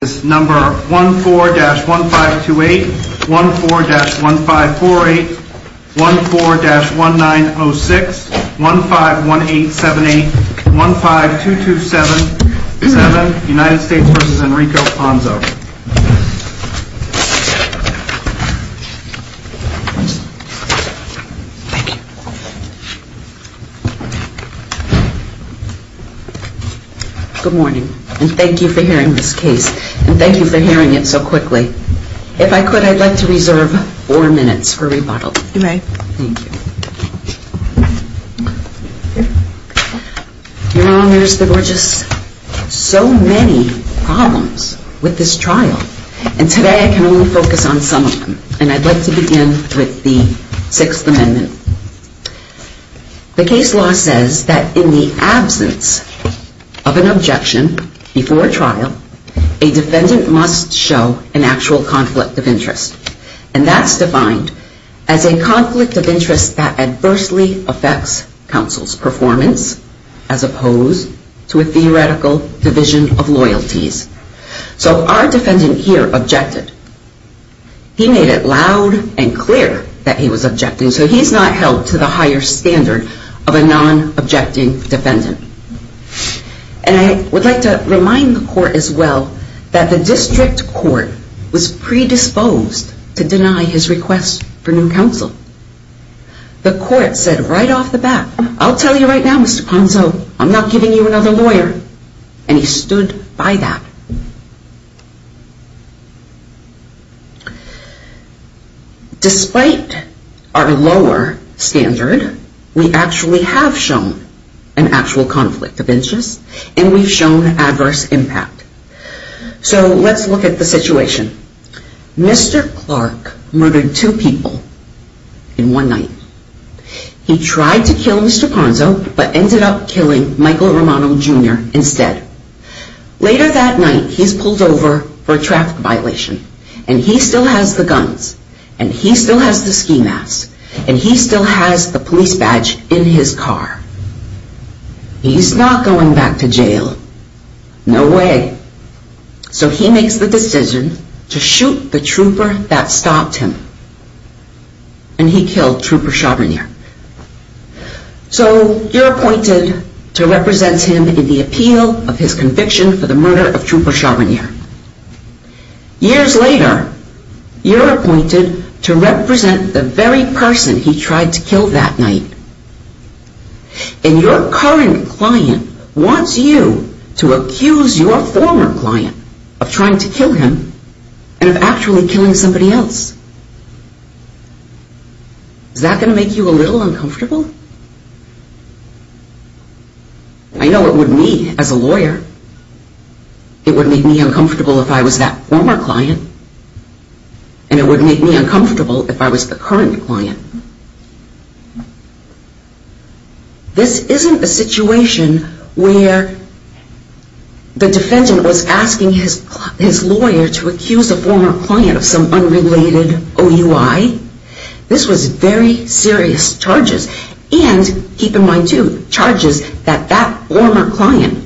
is number 14-1528, 14-1548, 14-1906, 151878, 152277, United States v. Enrico Ponzo. Thank you. Good morning, and thank you for hearing this case, and thank you for hearing it so quickly. If I could, I'd like to reserve four minutes for rebuttal. You may. Thank you. The case law says that in the absence of an objection before trial, a defendant must show an actual conflict of interest. And that's defined as a conflict of interest that adversely affects counsel's performance, as opposed to a theoretical division of loyalties. So our defendant here objected. He made it loud and clear that he was objecting, so he's not held to the higher standard of a non-objecting defendant. And I would like to remind the court as well that the district court was predisposed to deny his request for new counsel. The court said right off the bat, I'll tell you right now, Mr. Ponzo, I'm not giving you another lawyer. And he stood by that. Despite our lower standard, we actually have shown an actual conflict of interest, and we've shown adverse impact. So let's look at the situation. Mr. Clark murdered two people in one night. He tried to kill Mr. Ponzo, but he killed Mr. Ponzo, Jr. instead. Later that night, he's pulled over for a traffic violation. And he still has the guns. And he still has the ski masks. And he still has the police badge in his car. He's not going back to jail. No way. So he makes the decision to shoot the trooper that stopped him. And he killed Trooper Chabonier. So you're appointed to represent him in the appeal of his conviction for the murder of Trooper Chabonier. Years later, you're appointed to represent the very person he tried to kill that night. And your current client wants you to accuse your former client of trying to kill him and of actually killing somebody else. Is that going to make you a little uncomfortable? I know it would me as a lawyer. It would make me uncomfortable if I was that former client. And it would make me uncomfortable if I was the current client. This isn't a situation where the defendant was asking his lawyer to accuse a former client of some unrelated OUI. This was very serious charges. And keep in mind, too, charges that that former client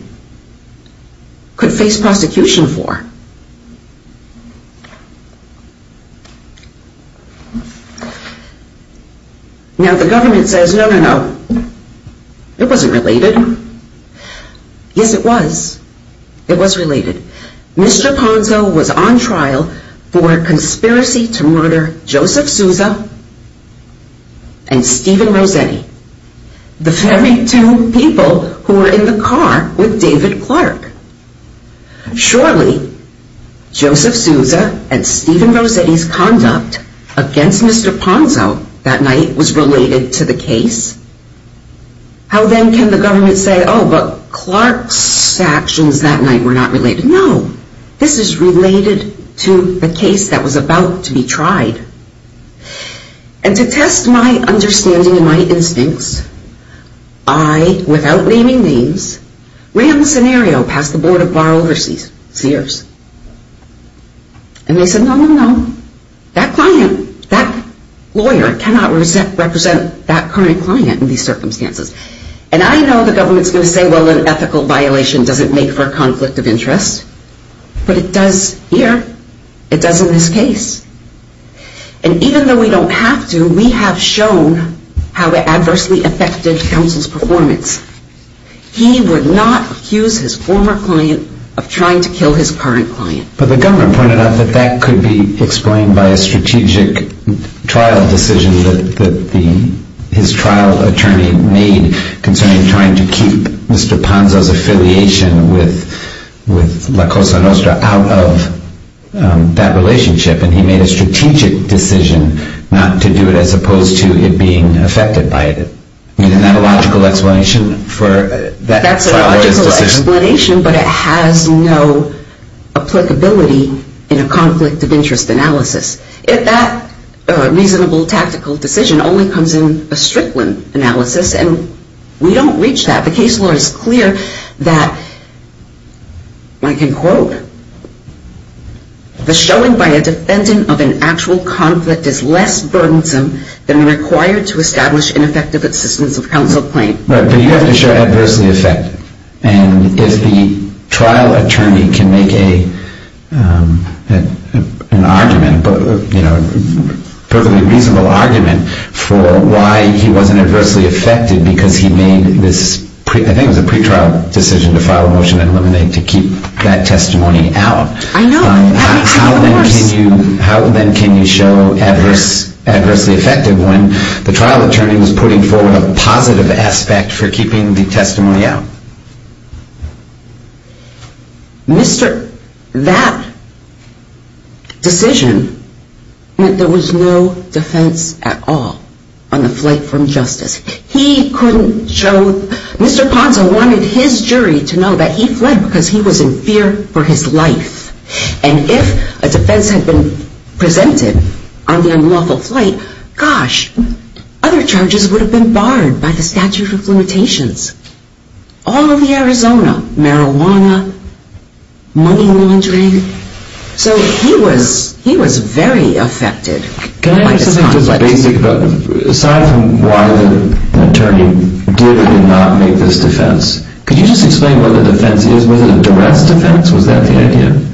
could face prosecution for. Now, the government says, no, no, no. It wasn't related. Yes, it was. It was related. Mr. Ponzo was on trial for conspiracy to murder Joseph Souza and Stephen Rossetti, the very Joseph Souza and Stephen Rossetti's conduct against Mr. Ponzo that night was related to the case. How then can the government say, oh, but Clark's actions that night were not related? No. This is related to the case that was about to be tried. And to test my understanding and my And they said, no, no, no. That client, that lawyer cannot represent that current client in these circumstances. And I know the government is going to say, well, an ethical violation doesn't make for a conflict of interest. But it does here. It does in this case. And even though we don't have to, we have shown how it adversely affected counsel's performance. He would not accuse his former client of trying to kill his current client. But the government pointed out that that could be explained by a strategic trial decision that his trial attorney made concerning trying to keep Mr. Ponzo's affiliation with La Cosa Nostra out of that relationship. And he made a strategic decision not to do it as opposed to it being affected by it. I mean, isn't that a logical explanation for that decision? That's a logical explanation, but it has no applicability in a conflict of interest analysis. If that reasonable tactical decision only comes in a Strickland analysis, and we don't reach that. The case law is clear that, I can quote, the showing by a defendant of an adverse, burdensome, than required to establish an effective assistance of counsel claim. Right, but you have to show adversely affected. And if the trial attorney can make an argument, you know, a perfectly reasonable argument for why he wasn't adversely affected because he made this, I think it was a pretrial decision to file a motion to eliminate to keep that testimony out. I know. How then can you show adversely affected when the trial attorney was putting forward a positive aspect for keeping the testimony out? Mr., that decision meant there was no defense at all on the flight from justice. He couldn't show, Mr. Ponzo wanted his jury to know that he fled because he was in fear for his life. And if a defense had been presented on the unlawful flight, gosh, other charges would have been barred by the statute of limitations. All of the Arizona, marijuana, money laundering. So he was, he was very affected. Can I ask something just basic about, aside from why the attorney did or did not make this defense, could you just explain what the defense is? Was it a duress defense? Was that the idea?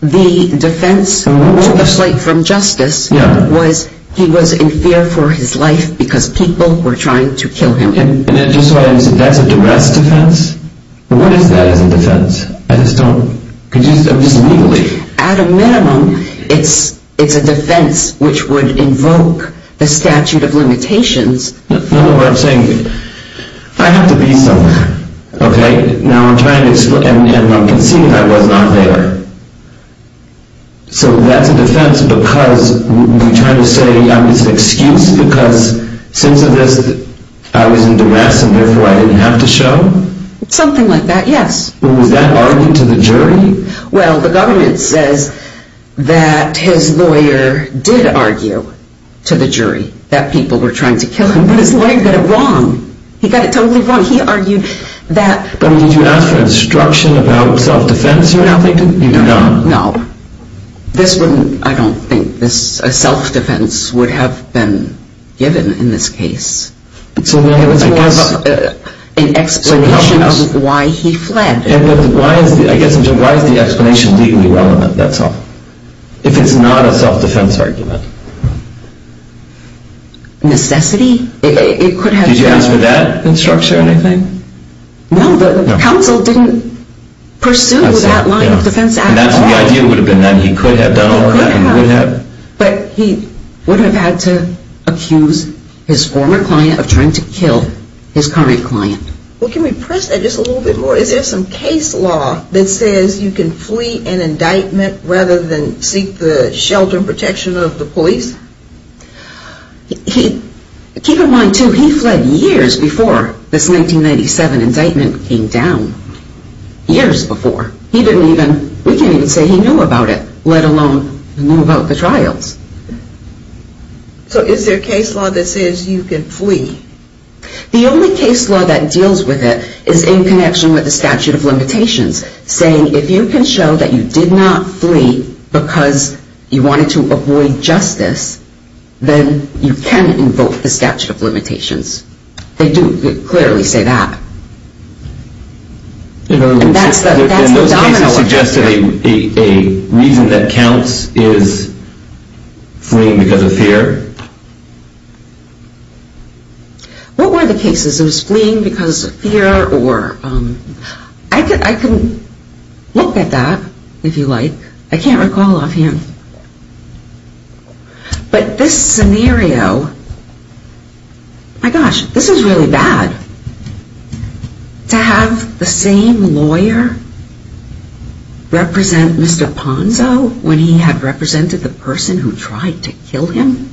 The defense to the flight from justice was he was in fear for his life because people were trying to kill him. And just so I understand, that's a duress defense? What is that as a defense? I just don't, I'm just, I'm just legally. At a minimum, it's, it's a defense which would invoke the statute of limitations. No, no, what I'm saying, I have to be somewhere, okay? Now I'm trying to explain, and I'm conceding I was not there. So that's a defense because you're trying to say I'm just an excuse because since of this I was in duress and therefore I didn't have to show? Something like that, yes. Was that arguing to the jury? Well, the government says that his lawyer did argue to the jury that people were trying to kill him, but his lawyer got it wrong. He got it totally wrong. He argued that. But did you ask for instruction about self-defense? No. You did not? No. This wouldn't, I don't think this, a self-defense would have been given in this case. So then I guess. It's more of an explanation of why he fled. And why is the, I guess, why is the explanation legally relevant, that's all? If it's not a self-defense argument? Necessity? It could have been. Did you ask for that instruction or anything? No, the counsel didn't pursue that line of defense at all. And that's what the idea would have been then. He could have done all that. He could have, but he would have had to accuse his former client of trying to kill his current client. Well, can we press that just a little bit more? Is there some case law that says you can flee an indictment rather than seek the shelter and protection of the police? Keep in mind too, he fled years before this 1997 indictment came down. Years before. He didn't even, we can't even say he knew about it, let alone knew about the trials. So is there a case law that says you can flee? The only case law that deals with it is in connection with the statute of limitations saying if you can show that you did not flee because you wanted to avoid justice, then you can invoke the statute of limitations. They do clearly say that. And that's the domino effect. And those cases suggested a reason that counts is fleeing because of fear? What were the cases? It was fleeing because of fear or, I can look at that if you like. I can't recall offhand. But this scenario, my gosh, this is really bad. To have the same lawyer represent Mr. Ponzo when he had represented the person who tried to kill him?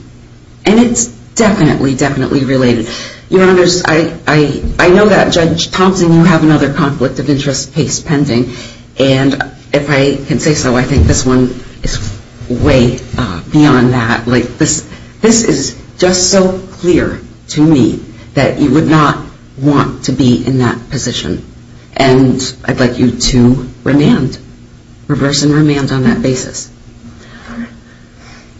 And it's definitely, definitely related. Your Honors, I know that Judge Thompson, you have another conflict of interest case pending. And if I can say so, I think this one is way beyond that. This is just so clear to me that you would not want to be in that position. And I'd like you to remand, reverse and remand on that basis.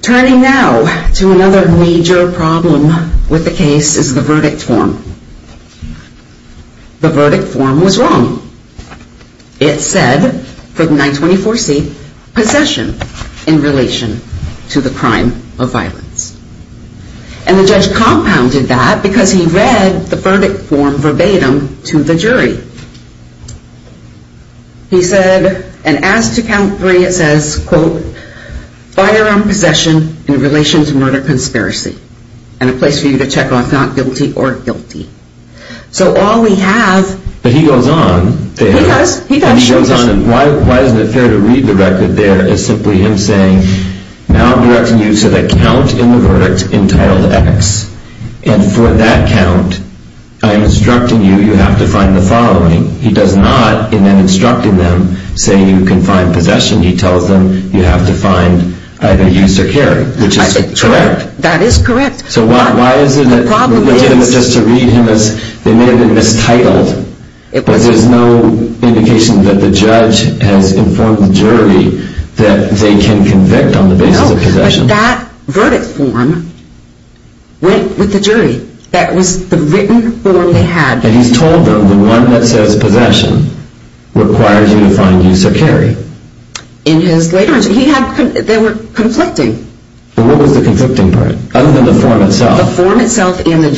Turning now to another major problem with the case is the verdict form. The verdict form was wrong. It said, for the 924C, possession in relation to the crime of violence. And the judge compounded that because he read the verdict form verbatim to the jury. He said, and as to count three, it says, quote, firearm possession in relation to murder conspiracy. And a place for you to check off not guilty or guilty. So all we have. But he goes on. He does. He does. He goes on and why isn't it fair to read the record there as simply him saying, now I'm directing you to the count in the verdict entitled X. And for that count, I'm instructing you, you have to find the following. He does not, in then instructing them, say you can find possession. He tells them you have to find either use or carry, which is correct. That is correct. So why isn't it legitimate just to read him as, they may have been mistitled. But there's no indication that the judge has informed the jury that they can convict on the basis of possession. That verdict form went with the jury. That was the written form they had. And he's told them the one that says possession requires you to find use or carry. In his later, they were conflicting. What was the conflicting part? Other than the form itself? The form itself and the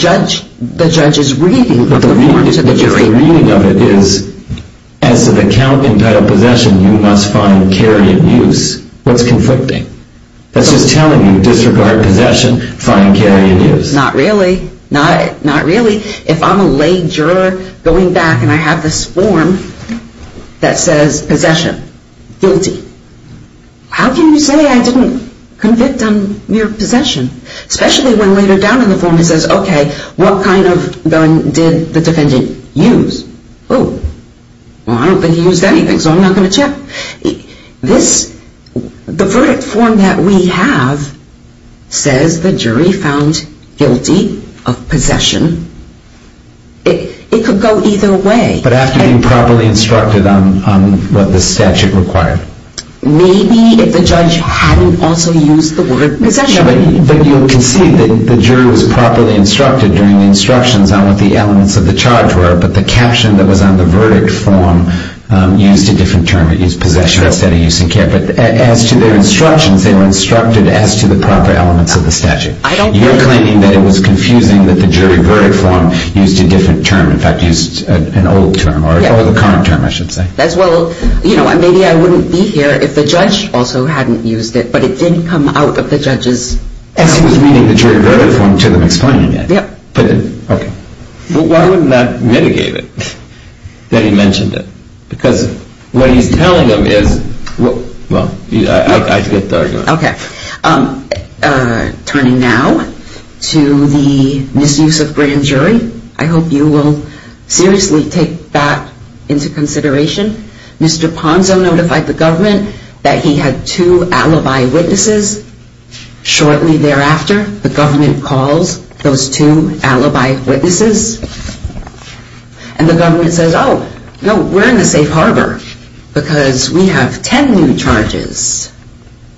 judge's reading of the form to the jury. But the reading of it is, as to the count entitled possession, you must find carry and use. What's conflicting? That's just telling you, disregard possession, find carry and use. Not really. Not really. If I'm a late juror going back and I have this form that says possession, guilty. How can you say I didn't convict on mere possession? Especially when later down in the form it says, okay, what kind of gun did the defendant use? Oh, well I don't think he used anything, so I'm not going to check. The verdict form that we have says the jury found guilty of possession. It could go either way. But after being properly instructed on what the statute required. Maybe if the judge hadn't also used the word possession. But you can see that the jury was properly instructed during the instructions on what the elements of the charge were, but the caption that was on the verdict form used a different term. It used possession instead of use and care. But as to their instructions, they were instructed as to the proper elements of the statute. You're claiming that it was confusing that the jury verdict form used a different term. In fact, used an old term or the current term, I should say. Well, you know, maybe I wouldn't be here if the judge also hadn't used it, but it didn't come out of the judge's. As he was reading the jury verdict form to them explaining it. Yep. But why wouldn't that mitigate it that he mentioned it? Because what he's telling them is, well, I get the argument. Okay. Turning now to the misuse of grand jury. I hope you will seriously take that into consideration. Mr. Ponzo notified the government that he had two alibi witnesses. Shortly thereafter, the government calls those two alibi witnesses, and the government says, oh, no, we're in the safe harbor, because we have ten new charges.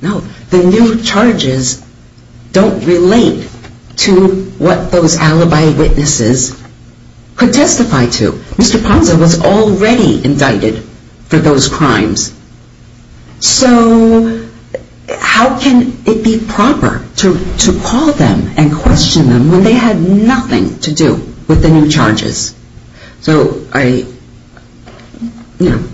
No, the new charges don't relate to what those alibi witnesses could testify to. Mr. Ponzo was already indicted for those crimes. So how can it be proper to call them and question them when they had nothing to do with the new charges? So I, you know,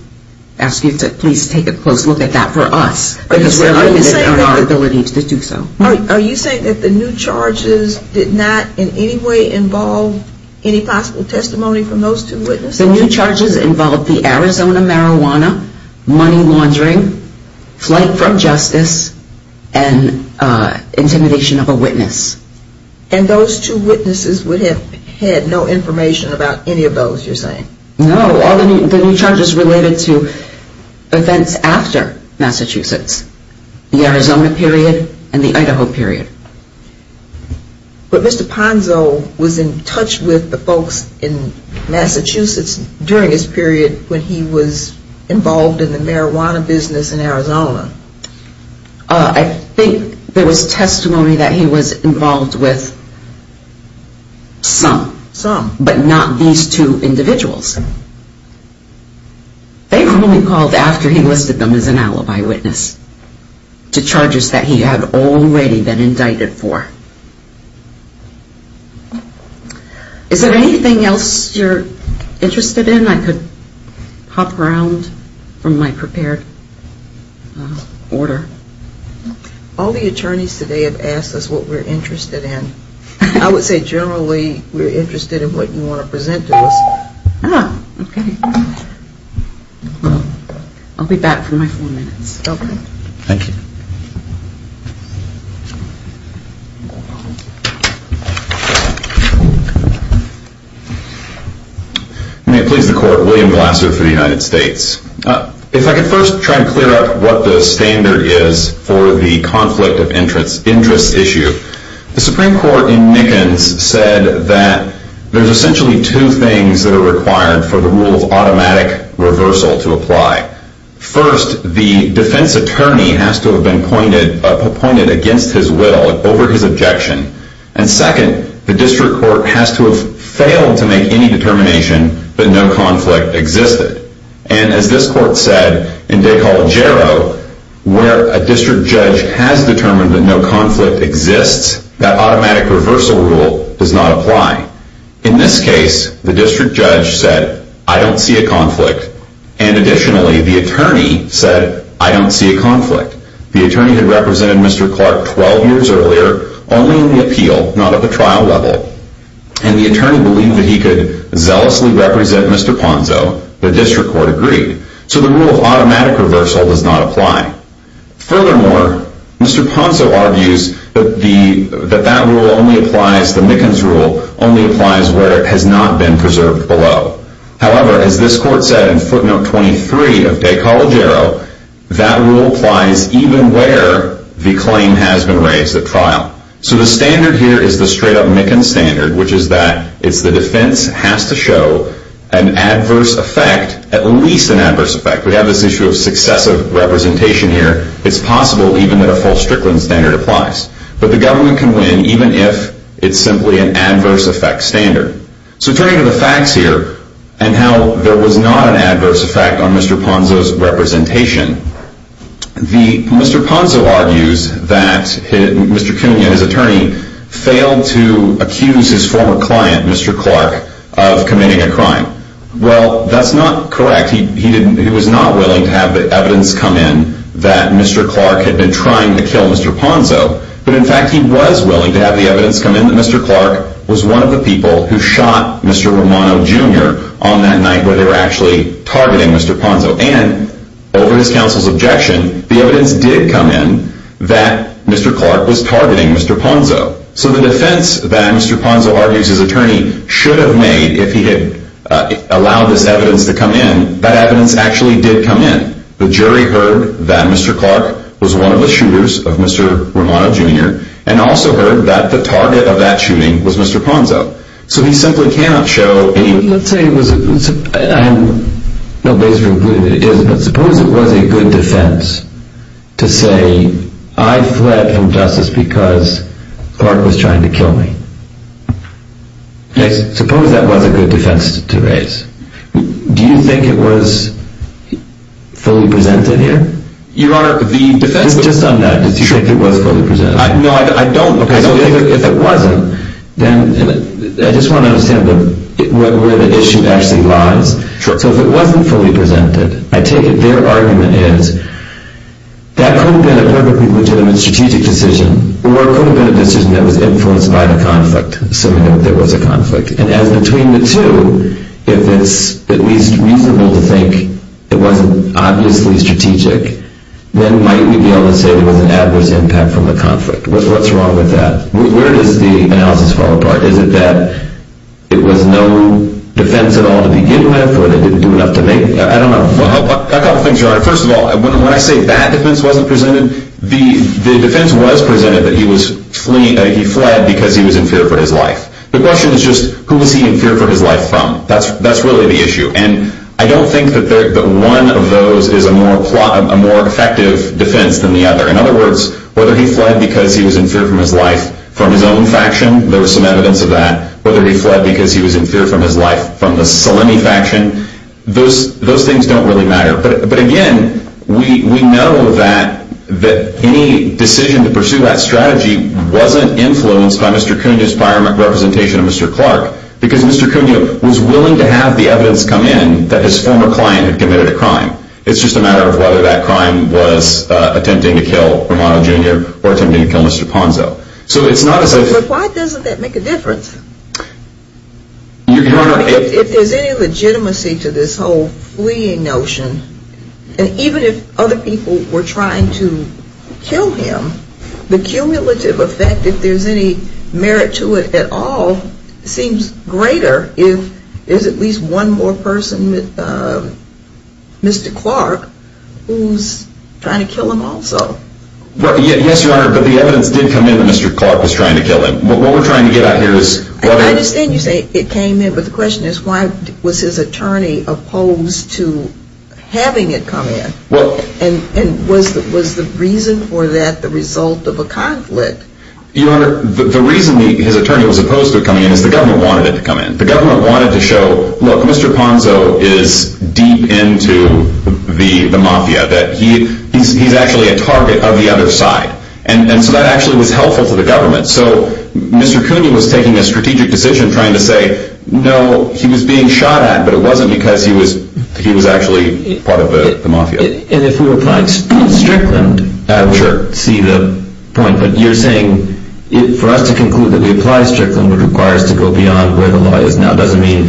ask you to please take a close look at that for us, because we're limited in our ability to do so. Are you saying that the new charges did not in any way involve any possible testimony from those two witnesses? The new charges involved the Arizona marijuana, money laundering, flight from justice, and intimidation of a witness. And those two witnesses would have had no information about any of those, you're saying? No, all the new charges related to events after Massachusetts, the Arizona period and the Idaho period. But Mr. Ponzo was in touch with the folks in Massachusetts during his period when he was involved in the marijuana business in Arizona. I think there was testimony that he was involved with some. Some. But not these two individuals. They were only called after he listed them as an alibi witness to charges that he had already been indicted for. Is there anything else you're interested in? I could hop around from my prepared order. All the attorneys today have asked us what we're interested in. I would say generally we're interested in what you want to present to us. Ah, okay. I'll be back for my four minutes. Okay. Thank you. May it please the Court. William Glasser for the United States. If I could first try to clear up what the standard is for the conflict of interest issue. The Supreme Court in Nickens said that there's essentially two things that are required for the rule of automatic reversal to apply. First, the defense attorney has to have been appointed against his will, over his objection. And second, the district court has to have failed to make any determination that no conflict existed. And as this court said in De Coligero, where a district judge has determined that no conflict exists, that automatic reversal rule does not apply. In this case, the district judge said, I don't see a conflict. And additionally, the attorney said, I don't see a conflict. The attorney had represented Mr. Clark 12 years earlier, only in the appeal, not at the trial level. And the attorney believed that he could zealously represent Mr. Ponzo. The district court agreed. So the rule of automatic reversal does not apply. Furthermore, Mr. Ponzo argues that that rule only applies, the Nickens rule only applies where it has not been preserved below. However, as this court said in footnote 23 of De Coligero, that rule applies even where the claim has been raised at trial. So the standard here is the straight up Nickens standard, which is that it's the defense has to show an adverse effect, at least an adverse effect. We have this issue of successive representation here. It's possible even that a false Strickland standard applies. But the government can win even if it's simply an adverse effect standard. So turning to the facts here, and how there was not an adverse effect on Mr. Ponzo's representation. Mr. Ponzo argues that Mr. Cunha, his attorney, failed to accuse his former client, Mr. Clark, of committing a crime. Well, that's not correct. He was not willing to have the evidence come in that Mr. Clark had been trying to kill Mr. Ponzo but in fact he was willing to have the evidence come in that Mr. Clark was one of the people who shot Mr. Romano Jr. on that night where they were actually targeting Mr. Ponzo. And over his counsel's objection, the evidence did come in that Mr. Clark was targeting Mr. Ponzo. So the defense that Mr. Ponzo argues his attorney should have made if he had allowed this evidence to come in, that evidence actually did come in. And the jury heard that Mr. Clark was one of the shooters of Mr. Romano Jr. and also heard that the target of that shooting was Mr. Ponzo. So he simply cannot show any... Let's say it was... No, basically it is, but suppose it was a good defense to say I fled injustice because Clark was trying to kill me. Suppose that was a good defense to raise. Do you think it was fully presented here? Your Honor, the defense... Just on that, do you think it was fully presented? No, I don't. Okay, so if it wasn't, then... I just want to understand where the issue actually lies. So if it wasn't fully presented, I take it their argument is that could have been a perfectly legitimate strategic decision or it could have been a decision that was influenced by the conflict, assuming that there was a conflict. And as between the two, if it's at least reasonable to think it wasn't obviously strategic, then might we be able to say there was an adverse impact from the conflict? What's wrong with that? Where does the analysis fall apart? Is it that it was no defense at all to begin with or they didn't do enough to make... I don't know. A couple things, Your Honor. First of all, when I say that defense wasn't presented, the defense was presented that he fled because he was in fear for his life. The question is just, who was he in fear for his life from? That's really the issue. And I don't think that one of those is a more effective defense than the other. In other words, whether he fled because he was in fear for his life from his own faction, there was some evidence of that, whether he fled because he was in fear for his life from the Salemi faction, those things don't really matter. But again, we know that any decision to pursue that strategy wasn't influenced by Mr. Cunha's prior representation of Mr. Clark because Mr. Cunha was willing to have the evidence come in that his former client had committed a crime. It's just a matter of whether that crime was attempting to kill Romano Jr. or attempting to kill Mr. Ponzo. So it's not as if... But why doesn't that make a difference? Your Honor... If there's any legitimacy to this whole fleeing notion, and even if other people were trying to kill him, the cumulative effect, if there's any merit to it at all, seems greater if there's at least one more person, Mr. Clark, who's trying to kill him also. Yes, Your Honor, but the evidence did come in that Mr. Clark was trying to kill him. What we're trying to get at here is... I understand you say it came in, but the question is why was his attorney opposed to having it come in? And was the reason for that the result of a conflict? Your Honor, the reason his attorney was opposed to it coming in is the government wanted it to come in. The government wanted to show, look, Mr. Ponzo is deep into the mafia, that he's actually a target of the other side. And so that actually was helpful to the government. So Mr. Cunha was taking a strategic decision trying to say, no, he was being shot at, but it wasn't because he was actually part of the mafia. And if we were applying Strickland, I would see the point. But you're saying for us to conclude that we apply Strickland would require us to go beyond where the law is now doesn't mean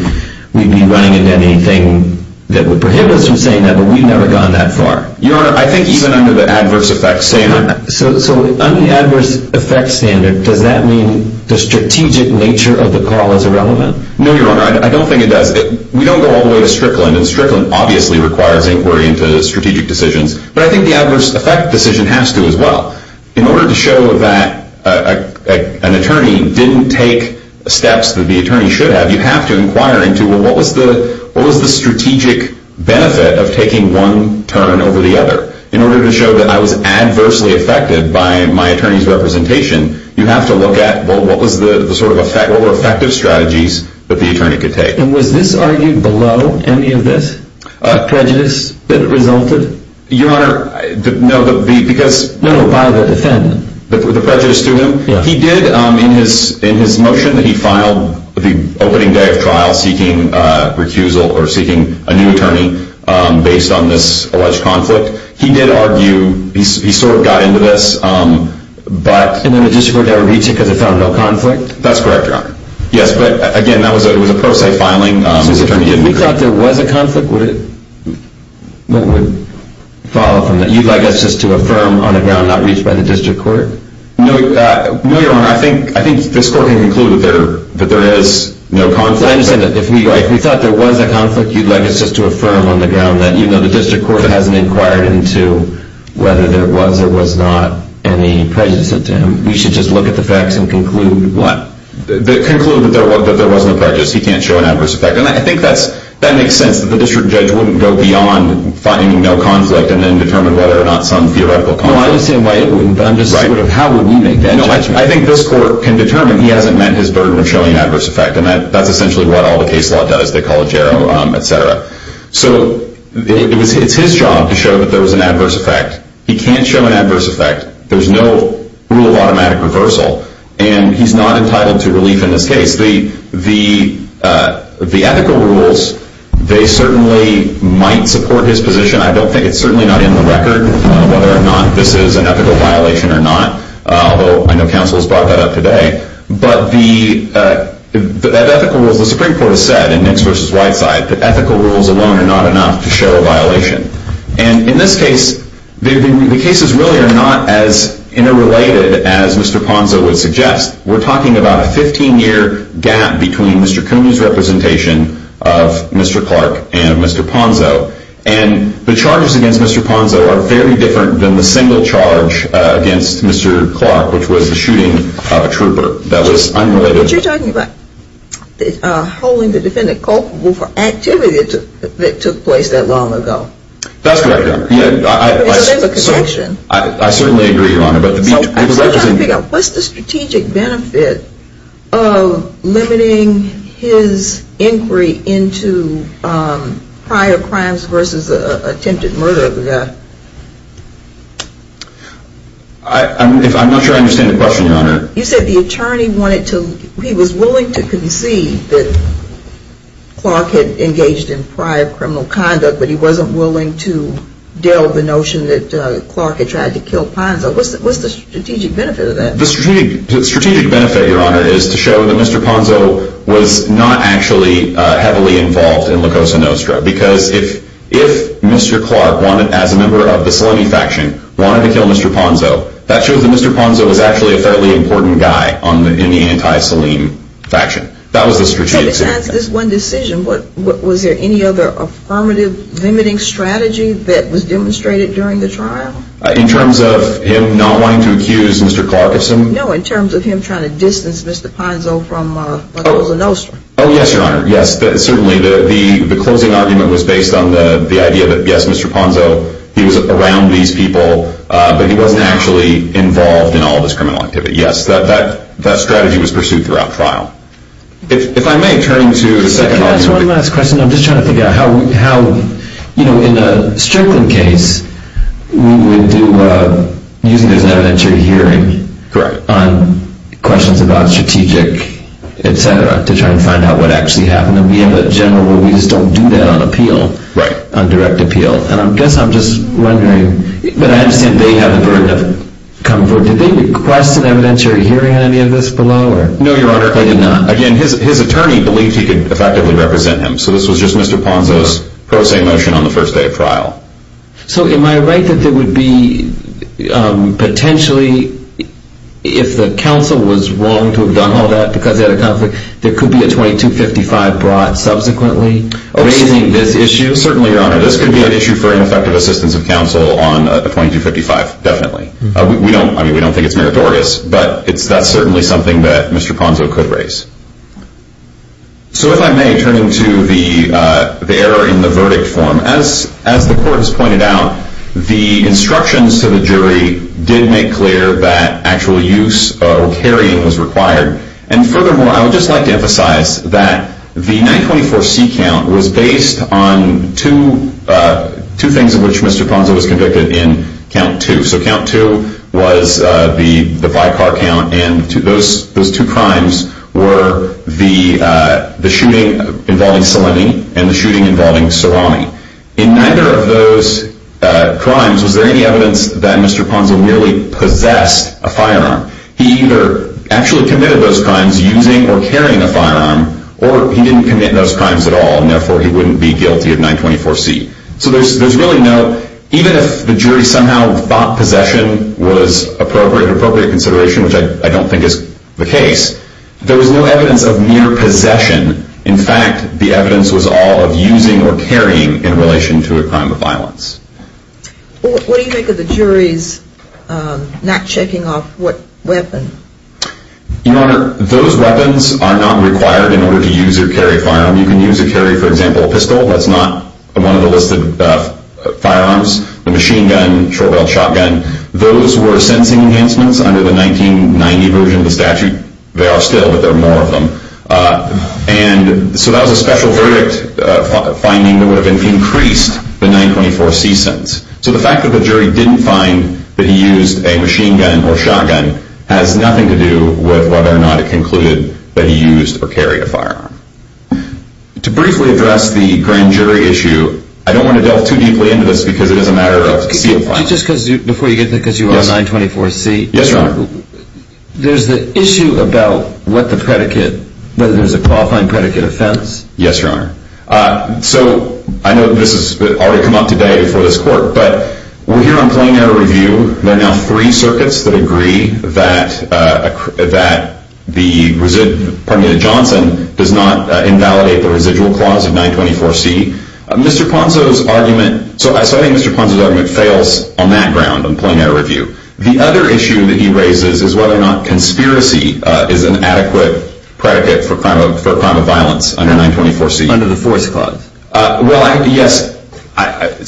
we'd be running into anything that would prohibit us from saying that, but we've never gone that far. Your Honor, I think even under the adverse effects standard... So under the adverse effects standard, does that mean the strategic nature of the call is irrelevant? No, Your Honor, I don't think it does. We don't go all the way to Strickland, and Strickland obviously requires inquiry into strategic decisions, but I think the adverse effect decision has to as well. In order to show that an attorney didn't take steps that the attorney should have, you have to inquire into, well, what was the strategic benefit of taking one turn over the other? In order to show that I was adversely affected by my attorney's representation, you have to look at, well, what were effective strategies that the attorney could take? And was this argued below any of this, the prejudice that resulted? Your Honor, no, because... No, no, by the defendant. The prejudice to him? Yeah. He did, in his motion that he filed the opening day of trial seeking recusal or seeking a new attorney based on this alleged conflict, he did argue, he sort of got into this, but... And then the district court never reached it because it found no conflict? That's correct, Your Honor. Yes, but again, that was a pro se filing. So if we thought there was a conflict, would it follow from that? You'd like us just to affirm on the ground not reached by the district court? No, Your Honor, I think this court can conclude that there is no conflict. I understand that if we thought there was a conflict, you'd like us just to affirm on the ground that, you know, the district court hasn't inquired into whether there was or was not any prejudice to him. We should just look at the facts and conclude what? Conclude that there was no prejudice. He can't show an adverse effect. And I think that makes sense that the district judge wouldn't go beyond finding no conflict and then determine whether or not some theoretical conflict. Well, I understand why it wouldn't, but I'm just sort of how would we make that judgment? No, I think this court can determine he hasn't met his burden of showing adverse effect, and that's essentially what all the case law does. They call it JARO, et cetera. So it's his job to show that there was an adverse effect. He can't show an adverse effect. There's no rule of automatic reversal, and he's not entitled to relief in this case. The ethical rules, they certainly might support his position. I don't think it's certainly not in the record whether or not this is an ethical violation or not, although I know counsel has brought that up today. But the ethical rules, the Supreme Court has said in Nix v. Whiteside, that ethical rules alone are not enough to show a violation. And in this case, the cases really are not as interrelated as Mr. Ponzo would suggest. We're talking about a 15-year gap between Mr. Cooney's representation of Mr. Clark and Mr. Ponzo. And the charges against Mr. Ponzo are very different than the single charge against Mr. Clark, which was the shooting of a trooper that was unrelated. But you're talking about holding the defendant culpable for activity that took place that long ago. That's correct. So there's a connection. I certainly agree, Your Honor. I'm just trying to figure out what's the strategic benefit of limiting his inquiry into prior crimes versus the attempted murder of the guy? I'm not sure I understand the question, Your Honor. You said the attorney wanted to, he was willing to concede that Clark had engaged in prior criminal conduct, but he wasn't willing to deal with the notion that Clark had tried to kill Ponzo. What's the strategic benefit of that? The strategic benefit, Your Honor, is to show that Mr. Ponzo was not actually heavily involved in LaCosa Nostra. Because if Mr. Clark, as a member of the Saleem faction, wanted to kill Mr. Ponzo, that shows that Mr. Ponzo was actually a fairly important guy in the anti-Saleem faction. That was the strategic benefit. So besides this one decision, was there any other affirmative limiting strategy that was demonstrated during the trial? In terms of him not wanting to accuse Mr. Clark of something? No, in terms of him trying to distance Mr. Ponzo from LaCosa Nostra. Oh, yes, Your Honor. Yes, certainly the closing argument was based on the idea that, yes, Mr. Ponzo, he was around these people, but he wasn't actually involved in all of his criminal activity. Yes, that strategy was pursued throughout trial. If I may turn to the second argument. Can I ask one last question? I'm just trying to figure out how, you know, in a Strickland case, we would do, and we have a general where we just don't do that on appeal, on direct appeal. And I guess I'm just wondering, but I understand they have the burden of comfort. Did they request an evidentiary hearing on any of this below? No, Your Honor. They did not? Again, his attorney believed he could effectively represent him. So this was just Mr. Ponzo's pro se motion on the first day of trial. So am I right that there would be potentially, if the counsel was willing to have done all that because they had a conflict, there could be a 2255 brought subsequently raising this issue? Certainly, Your Honor. This could be an issue for ineffective assistance of counsel on a 2255, definitely. I mean, we don't think it's meritorious, but that's certainly something that Mr. Ponzo could raise. So if I may turn to the error in the verdict form. As the court has pointed out, the instructions to the jury did make clear that actual use or carrying was required. And furthermore, I would just like to emphasize that the 924C count was based on two things of which Mr. Ponzo was convicted in count two. So count two was the by-car count, and those two crimes were the shooting involving Selenny and the shooting involving Cerami. In neither of those crimes was there any evidence that Mr. Ponzo really possessed a firearm. He either actually committed those crimes using or carrying a firearm, or he didn't commit those crimes at all, and therefore he wouldn't be guilty of 924C. So there's really no, even if the jury somehow thought possession was an appropriate consideration, which I don't think is the case, there was no evidence of mere possession. In fact, the evidence was all of using or carrying in relation to a crime of violence. What do you think of the jury's not checking off what weapon? Your Honor, those weapons are not required in order to use or carry a firearm. You can use or carry, for example, a pistol. That's not one of the listed firearms. The machine gun, short-barreled shotgun, those were sensing enhancements under the 1990 version of the statute. They are still, but there are more of them. And so that was a special verdict finding that would have increased the 924C sentence. So the fact that the jury didn't find that he used a machine gun or shotgun has nothing to do with whether or not it concluded that he used or carried a firearm. To briefly address the grand jury issue, I don't want to delve too deeply into this because it is a matter of CFI. Just before you get to it, because you are on 924C. Yes, Your Honor. There's the issue about what the predicate, whether there's a qualifying predicate offense. Yes, Your Honor. So I know this has already come up today before this court, but we're here on plenary review. There are now three circuits that agree that the Johnson does not invalidate the residual clause of 924C. Mr. Ponzo's argument fails on that ground on plenary review. The other issue that he raises is whether or not conspiracy is an adequate predicate for a crime of violence under 924C. Under the force clause. Well, yes.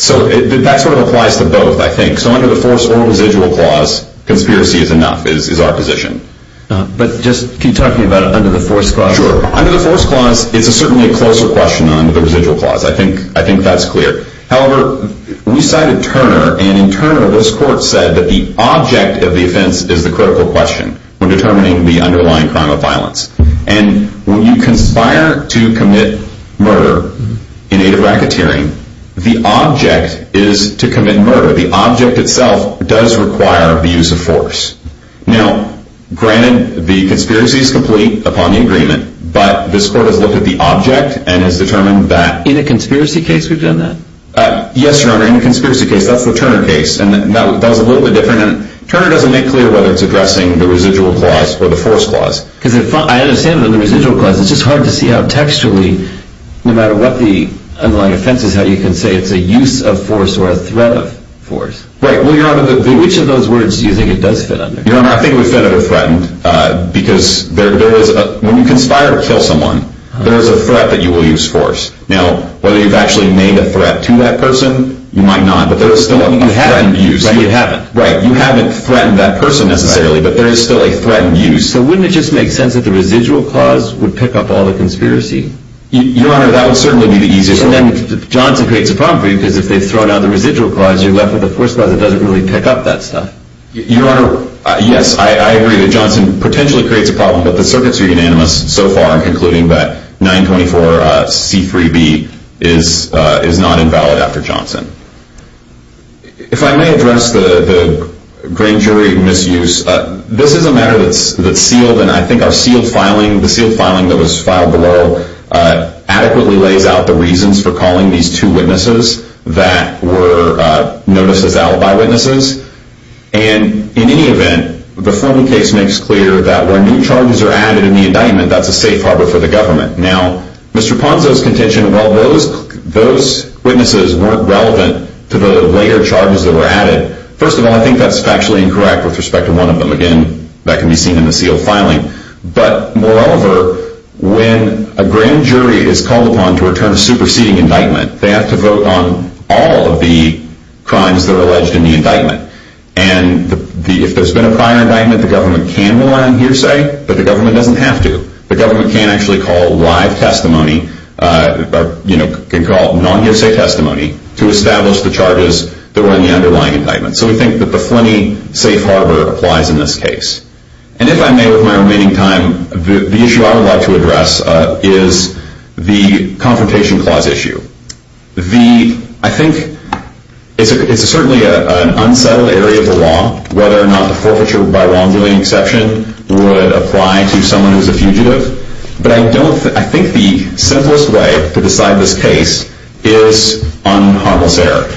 So that sort of applies to both, I think. So under the force or residual clause, conspiracy is enough, is our position. But just keep talking about under the force clause. Sure. Under the force clause, it's certainly a closer question than under the residual clause. I think that's clear. However, we cited Turner, and in Turner, this court said that the object of the offense is the critical question when determining the underlying crime of violence. And when you conspire to commit murder in aid of racketeering, the object is to commit murder. Now, granted, the conspiracy is complete upon the agreement. But this court has looked at the object and has determined that. In a conspiracy case, we've done that? Yes, Your Honor, in a conspiracy case. That's the Turner case. And that was a little bit different. And Turner doesn't make clear whether it's addressing the residual clause or the force clause. Because I understand that in the residual clause, it's just hard to see how textually, no matter what the underlying offense is, how you can say it's a use of force or a threat of force. Right, well, Your Honor, which of those words do you think it does fit under? Your Honor, I think it would fit under threatened. Because when you conspire to kill someone, there is a threat that you will use force. Now, whether you've actually made a threat to that person, you might not, but there is still a threatened use. Right, you haven't. Right, you haven't threatened that person necessarily, but there is still a threatened use. So wouldn't it just make sense that the residual clause would pick up all the conspiracy? Your Honor, that would certainly be the easiest one. And then Johnson creates a problem for you, because if they've thrown out the residual clause, you're left with a force clause that doesn't really pick up that stuff. Your Honor, yes, I agree that Johnson potentially creates a problem. But the circuits are unanimous so far in concluding that 924C3B is not invalid after Johnson. If I may address the grand jury misuse, this is a matter that's sealed. And I think our sealed filing, the sealed filing that was filed below, adequately lays out the reasons for calling these two witnesses that were notices out by witnesses. And in any event, the formal case makes clear that when new charges are added in the indictment, that's a safe harbor for the government. Now, Mr. Ponzo's contention, well, those witnesses weren't relevant to the later charges that were added. First of all, I think that's factually incorrect with respect to one of them. Again, that can be seen in the sealed filing. But moreover, when a grand jury is called upon to return a superseding indictment, they have to vote on all of the crimes that are alleged in the indictment. And if there's been a prior indictment, the government can rely on hearsay, but the government doesn't have to. The government can actually call live testimony, can call non-hearsay testimony, to establish the charges that were in the underlying indictment. So we think that the Flynn-y safe harbor applies in this case. And if I may, with my remaining time, the issue I would like to address is the confrontation clause issue. I think it's certainly an unsettled area of the law, whether or not the forfeiture by wrongdoing exception would apply to someone who's a fugitive. But I think the simplest way to decide this case is on harmless error.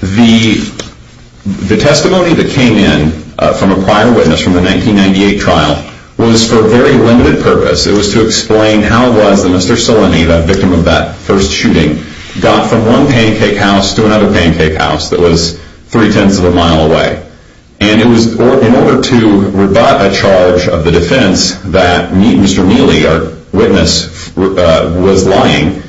The testimony that came in from a prior witness from the 1998 trial was for a very limited purpose. It was to explain how it was that Mr. Salini, the victim of that first shooting, got from one pancake house to another pancake house that was three-tenths of a mile away. And it was in order to rebut a charge of the defense that Mr. Neely, our witness, was lying.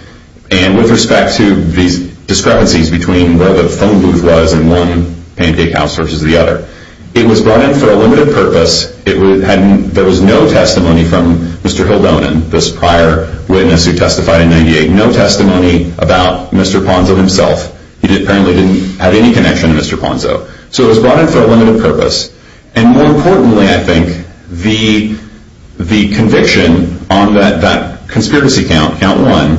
And with respect to these discrepancies between where the phone booth was in one pancake house versus the other, it was brought in for a limited purpose. There was no testimony from Mr. Hildonan, this prior witness who testified in 1998, no testimony about Mr. Ponzo himself. He apparently didn't have any connection to Mr. Ponzo. So it was brought in for a limited purpose. And more importantly, I think, the conviction on that conspiracy count, count one,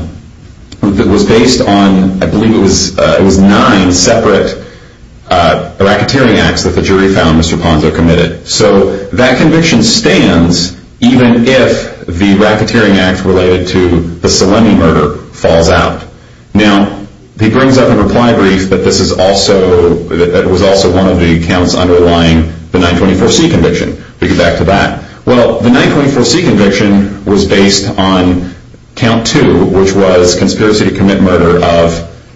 that was based on, I believe it was nine separate racketeering acts that the jury found Mr. Ponzo committed. So that conviction stands even if the racketeering act related to the Salini murder falls out. Now, he brings up a reply brief that this was also one of the counts underlying the 924C conviction. We'll get back to that. Well, the 924C conviction was based on count two, which was conspiracy to commit murder of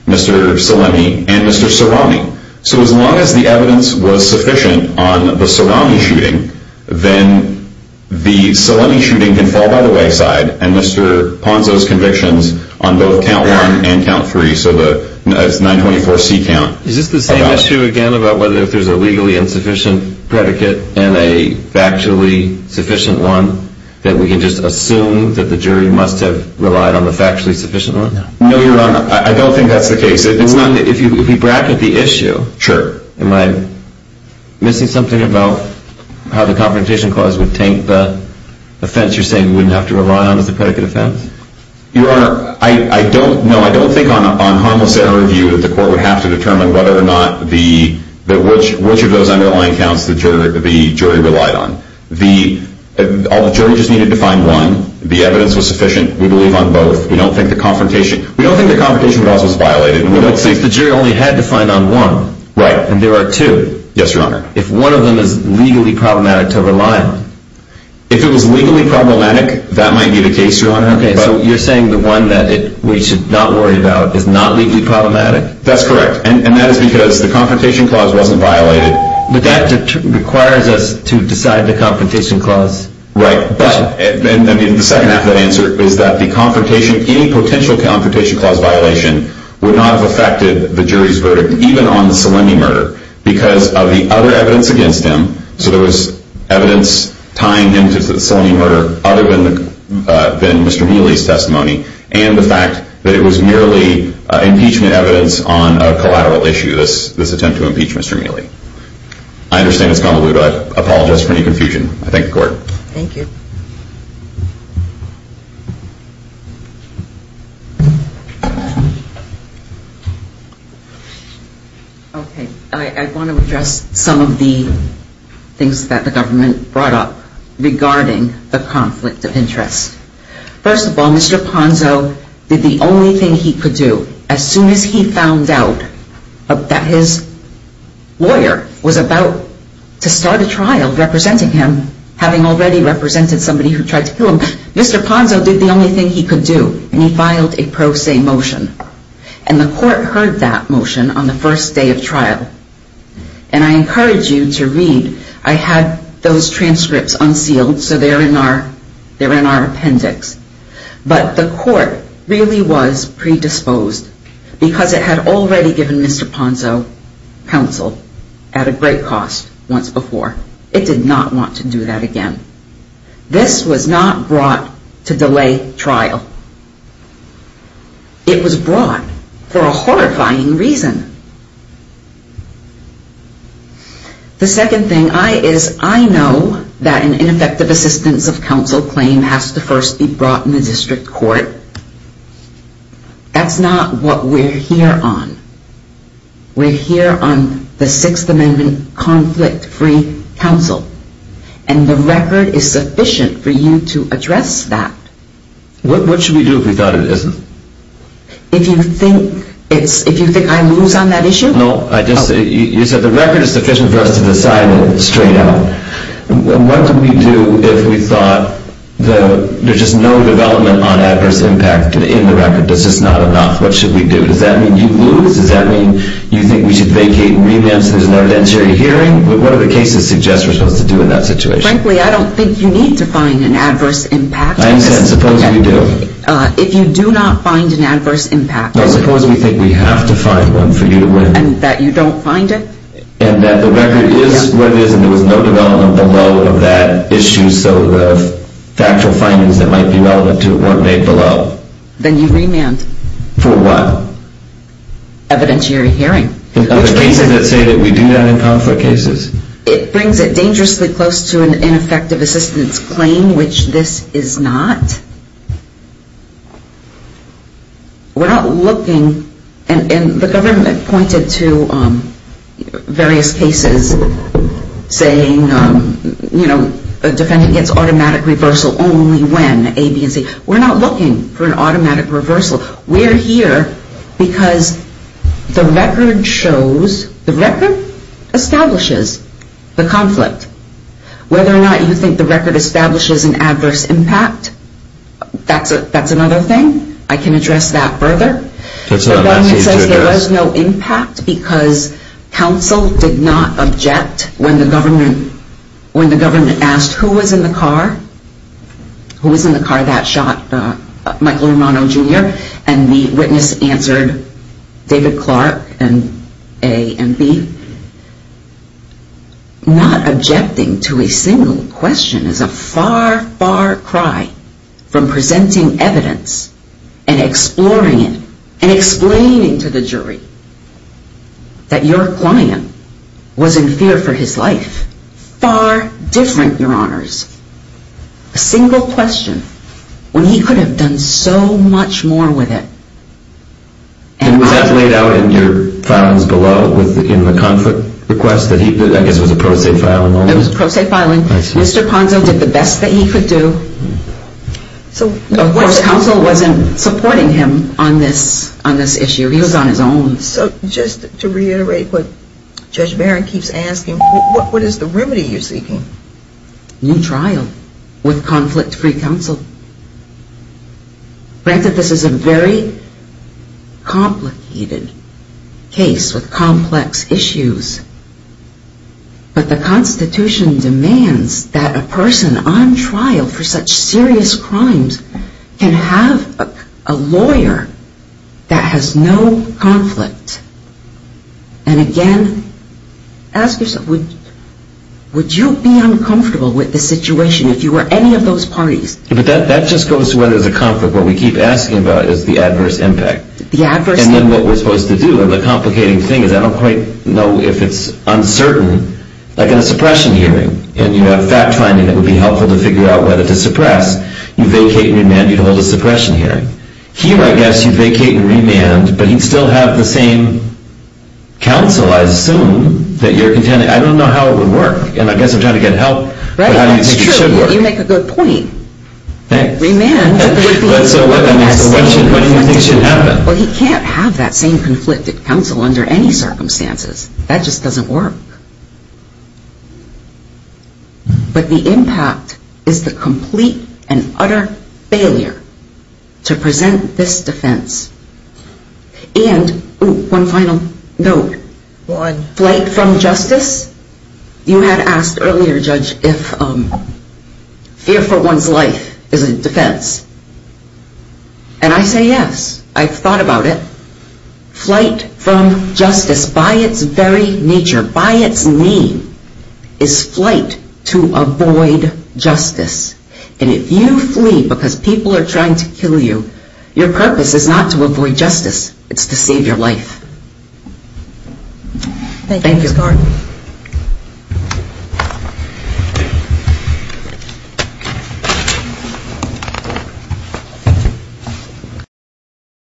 Mr. Salini and Mr. Sarami. So as long as the evidence was sufficient on the Sarami shooting, then the Salini shooting can fall by the wayside and Mr. Ponzo's convictions on both count one and count three, so the 924C count. Is this the same issue again about whether if there's a legally insufficient predicate and a factually sufficient one that we can just assume that the jury must have relied on the factually sufficient one? No, Your Honor, I don't think that's the case. If you bracket the issue, am I missing something about how the confrontation clause would taint the offense you're saying we wouldn't have to rely on as a predicate offense? Your Honor, no, I don't think on harmless error review that the court would have to determine whether or not which of those underlying counts the jury relied on. The jury just needed to find one. The evidence was sufficient. We believe on both. We don't think the confrontation clause was violated. The jury only had to find on one, and there are two. Yes, Your Honor. If one of them is legally problematic to rely on. If it was legally problematic, that might be the case, Your Honor. Okay, so you're saying the one that we should not worry about is not legally problematic? That's correct, and that is because the confrontation clause wasn't violated. But that requires us to decide the confrontation clause. Right, but the second half of that answer is that the confrontation, any potential confrontation clause violation would not have affected the jury's verdict, even on the Salimi murder, because of the other evidence against him. So there was evidence tying him to the Salimi murder other than Mr. Mealy's testimony, and the fact that it was merely impeachment evidence on a collateral issue, this attempt to impeach Mr. Mealy. I understand it's convoluted. I apologize for any confusion. I thank the Court. Thank you. Okay, I want to address some of the things that the government brought up regarding the conflict of interest. First of all, Mr. Ponzo did the only thing he could do as soon as he found out that his lawyer was about to start a trial representing him, having already represented somebody who tried to kill him. Mr. Ponzo did the only thing he could do, and he filed a pro se motion. And the Court heard that motion on the first day of trial. And I encourage you to read. I had those transcripts unsealed, so they're in our appendix. But the Court really was predisposed, because it had already given Mr. Ponzo counsel at a great cost once before. It did not want to do that again. This was not brought to delay trial. It was brought for a horrifying reason. The second thing is I know that an ineffective assistance of counsel claim has to first be brought in the district court. That's not what we're here on. We're here on the Sixth Amendment conflict-free counsel. And the record is sufficient for you to address that. What should we do if we thought it isn't? If you think I lose on that issue? No, you said the record is sufficient for us to decide it straight out. What do we do if we thought there's just no development on adverse impact in the record? That's just not enough. What should we do? Does that mean you lose? Does that mean you think we should vacate and renounce? There's an arbitrary hearing? What do the cases suggest we're supposed to do in that situation? Frankly, I don't think you need to find an adverse impact. I understand. Suppose we do. If you do not find an adverse impact. No, suppose we think we have to find one for you to win. And that you don't find it? And that the record is what it is and there was no development below of that issue so the factual findings that might be relevant to it weren't made below. Then you remand. For what? Evidentiary hearing. Are there cases that say that we do that in conflict cases? It brings it dangerously close to an ineffective assistance claim, which this is not. We're not looking. And the government pointed to various cases saying, you know, a defendant gets automatic reversal only when A, B, and C. We're not looking for an automatic reversal. We're here because the record shows, the record establishes the conflict. Whether or not you think the record establishes an adverse impact, that's another thing. I can address that further. The government says there was no impact because counsel did not object when the government asked who was in the car, who was in the car that shot Michael Romano, Jr., and the witness answered David Clark and A and B. Not objecting to a single question is a far, far cry from presenting evidence and exploring it and explaining to the jury that your client was in fear for his life. Far different, Your Honors. A single question when he could have done so much more with it. And was that laid out in your filings below in the conflict request that he did? I guess it was a pro se filing only. It was a pro se filing. Mr. Ponzo did the best that he could do. Of course, counsel wasn't supporting him on this issue. He was on his own. So just to reiterate what Judge Barron keeps asking, what is the remedy you're seeking? New trial with conflict-free counsel. Granted this is a very complicated case with complex issues, but the Constitution demands that a person on trial for such serious crimes can have a lawyer that has no conflict. And, again, ask yourself, would you be uncomfortable with the situation if you were any of those parties? But that just goes to whether there's a conflict. What we keep asking about is the adverse impact. And then what we're supposed to do, and the complicating thing is, I don't quite know if it's uncertain, like in a suppression hearing, and you have fact-finding that would be helpful to figure out whether to suppress, you vacate and remand, you'd hold a suppression hearing. Here, I guess, you vacate and remand, but you'd still have the same counsel, I assume, that you're contending. I don't know how it would work. And I guess I'm trying to get help, but I don't think it should work. You make a good point. Remand would be a weapon. So what do you think should happen? Well, he can't have that same conflicted counsel under any circumstances. That just doesn't work. But the impact is the complete and utter failure to present this defense. And one final note. Flight from justice. You had asked earlier, Judge, if fear for one's life is a defense. And I say yes. I've thought about it. Flight from justice, by its very nature, by its name, is flight to avoid justice. And if you flee because people are trying to kill you, your purpose is not to avoid justice. It's to save your life. Thank you, Mr. Garden. Thank you.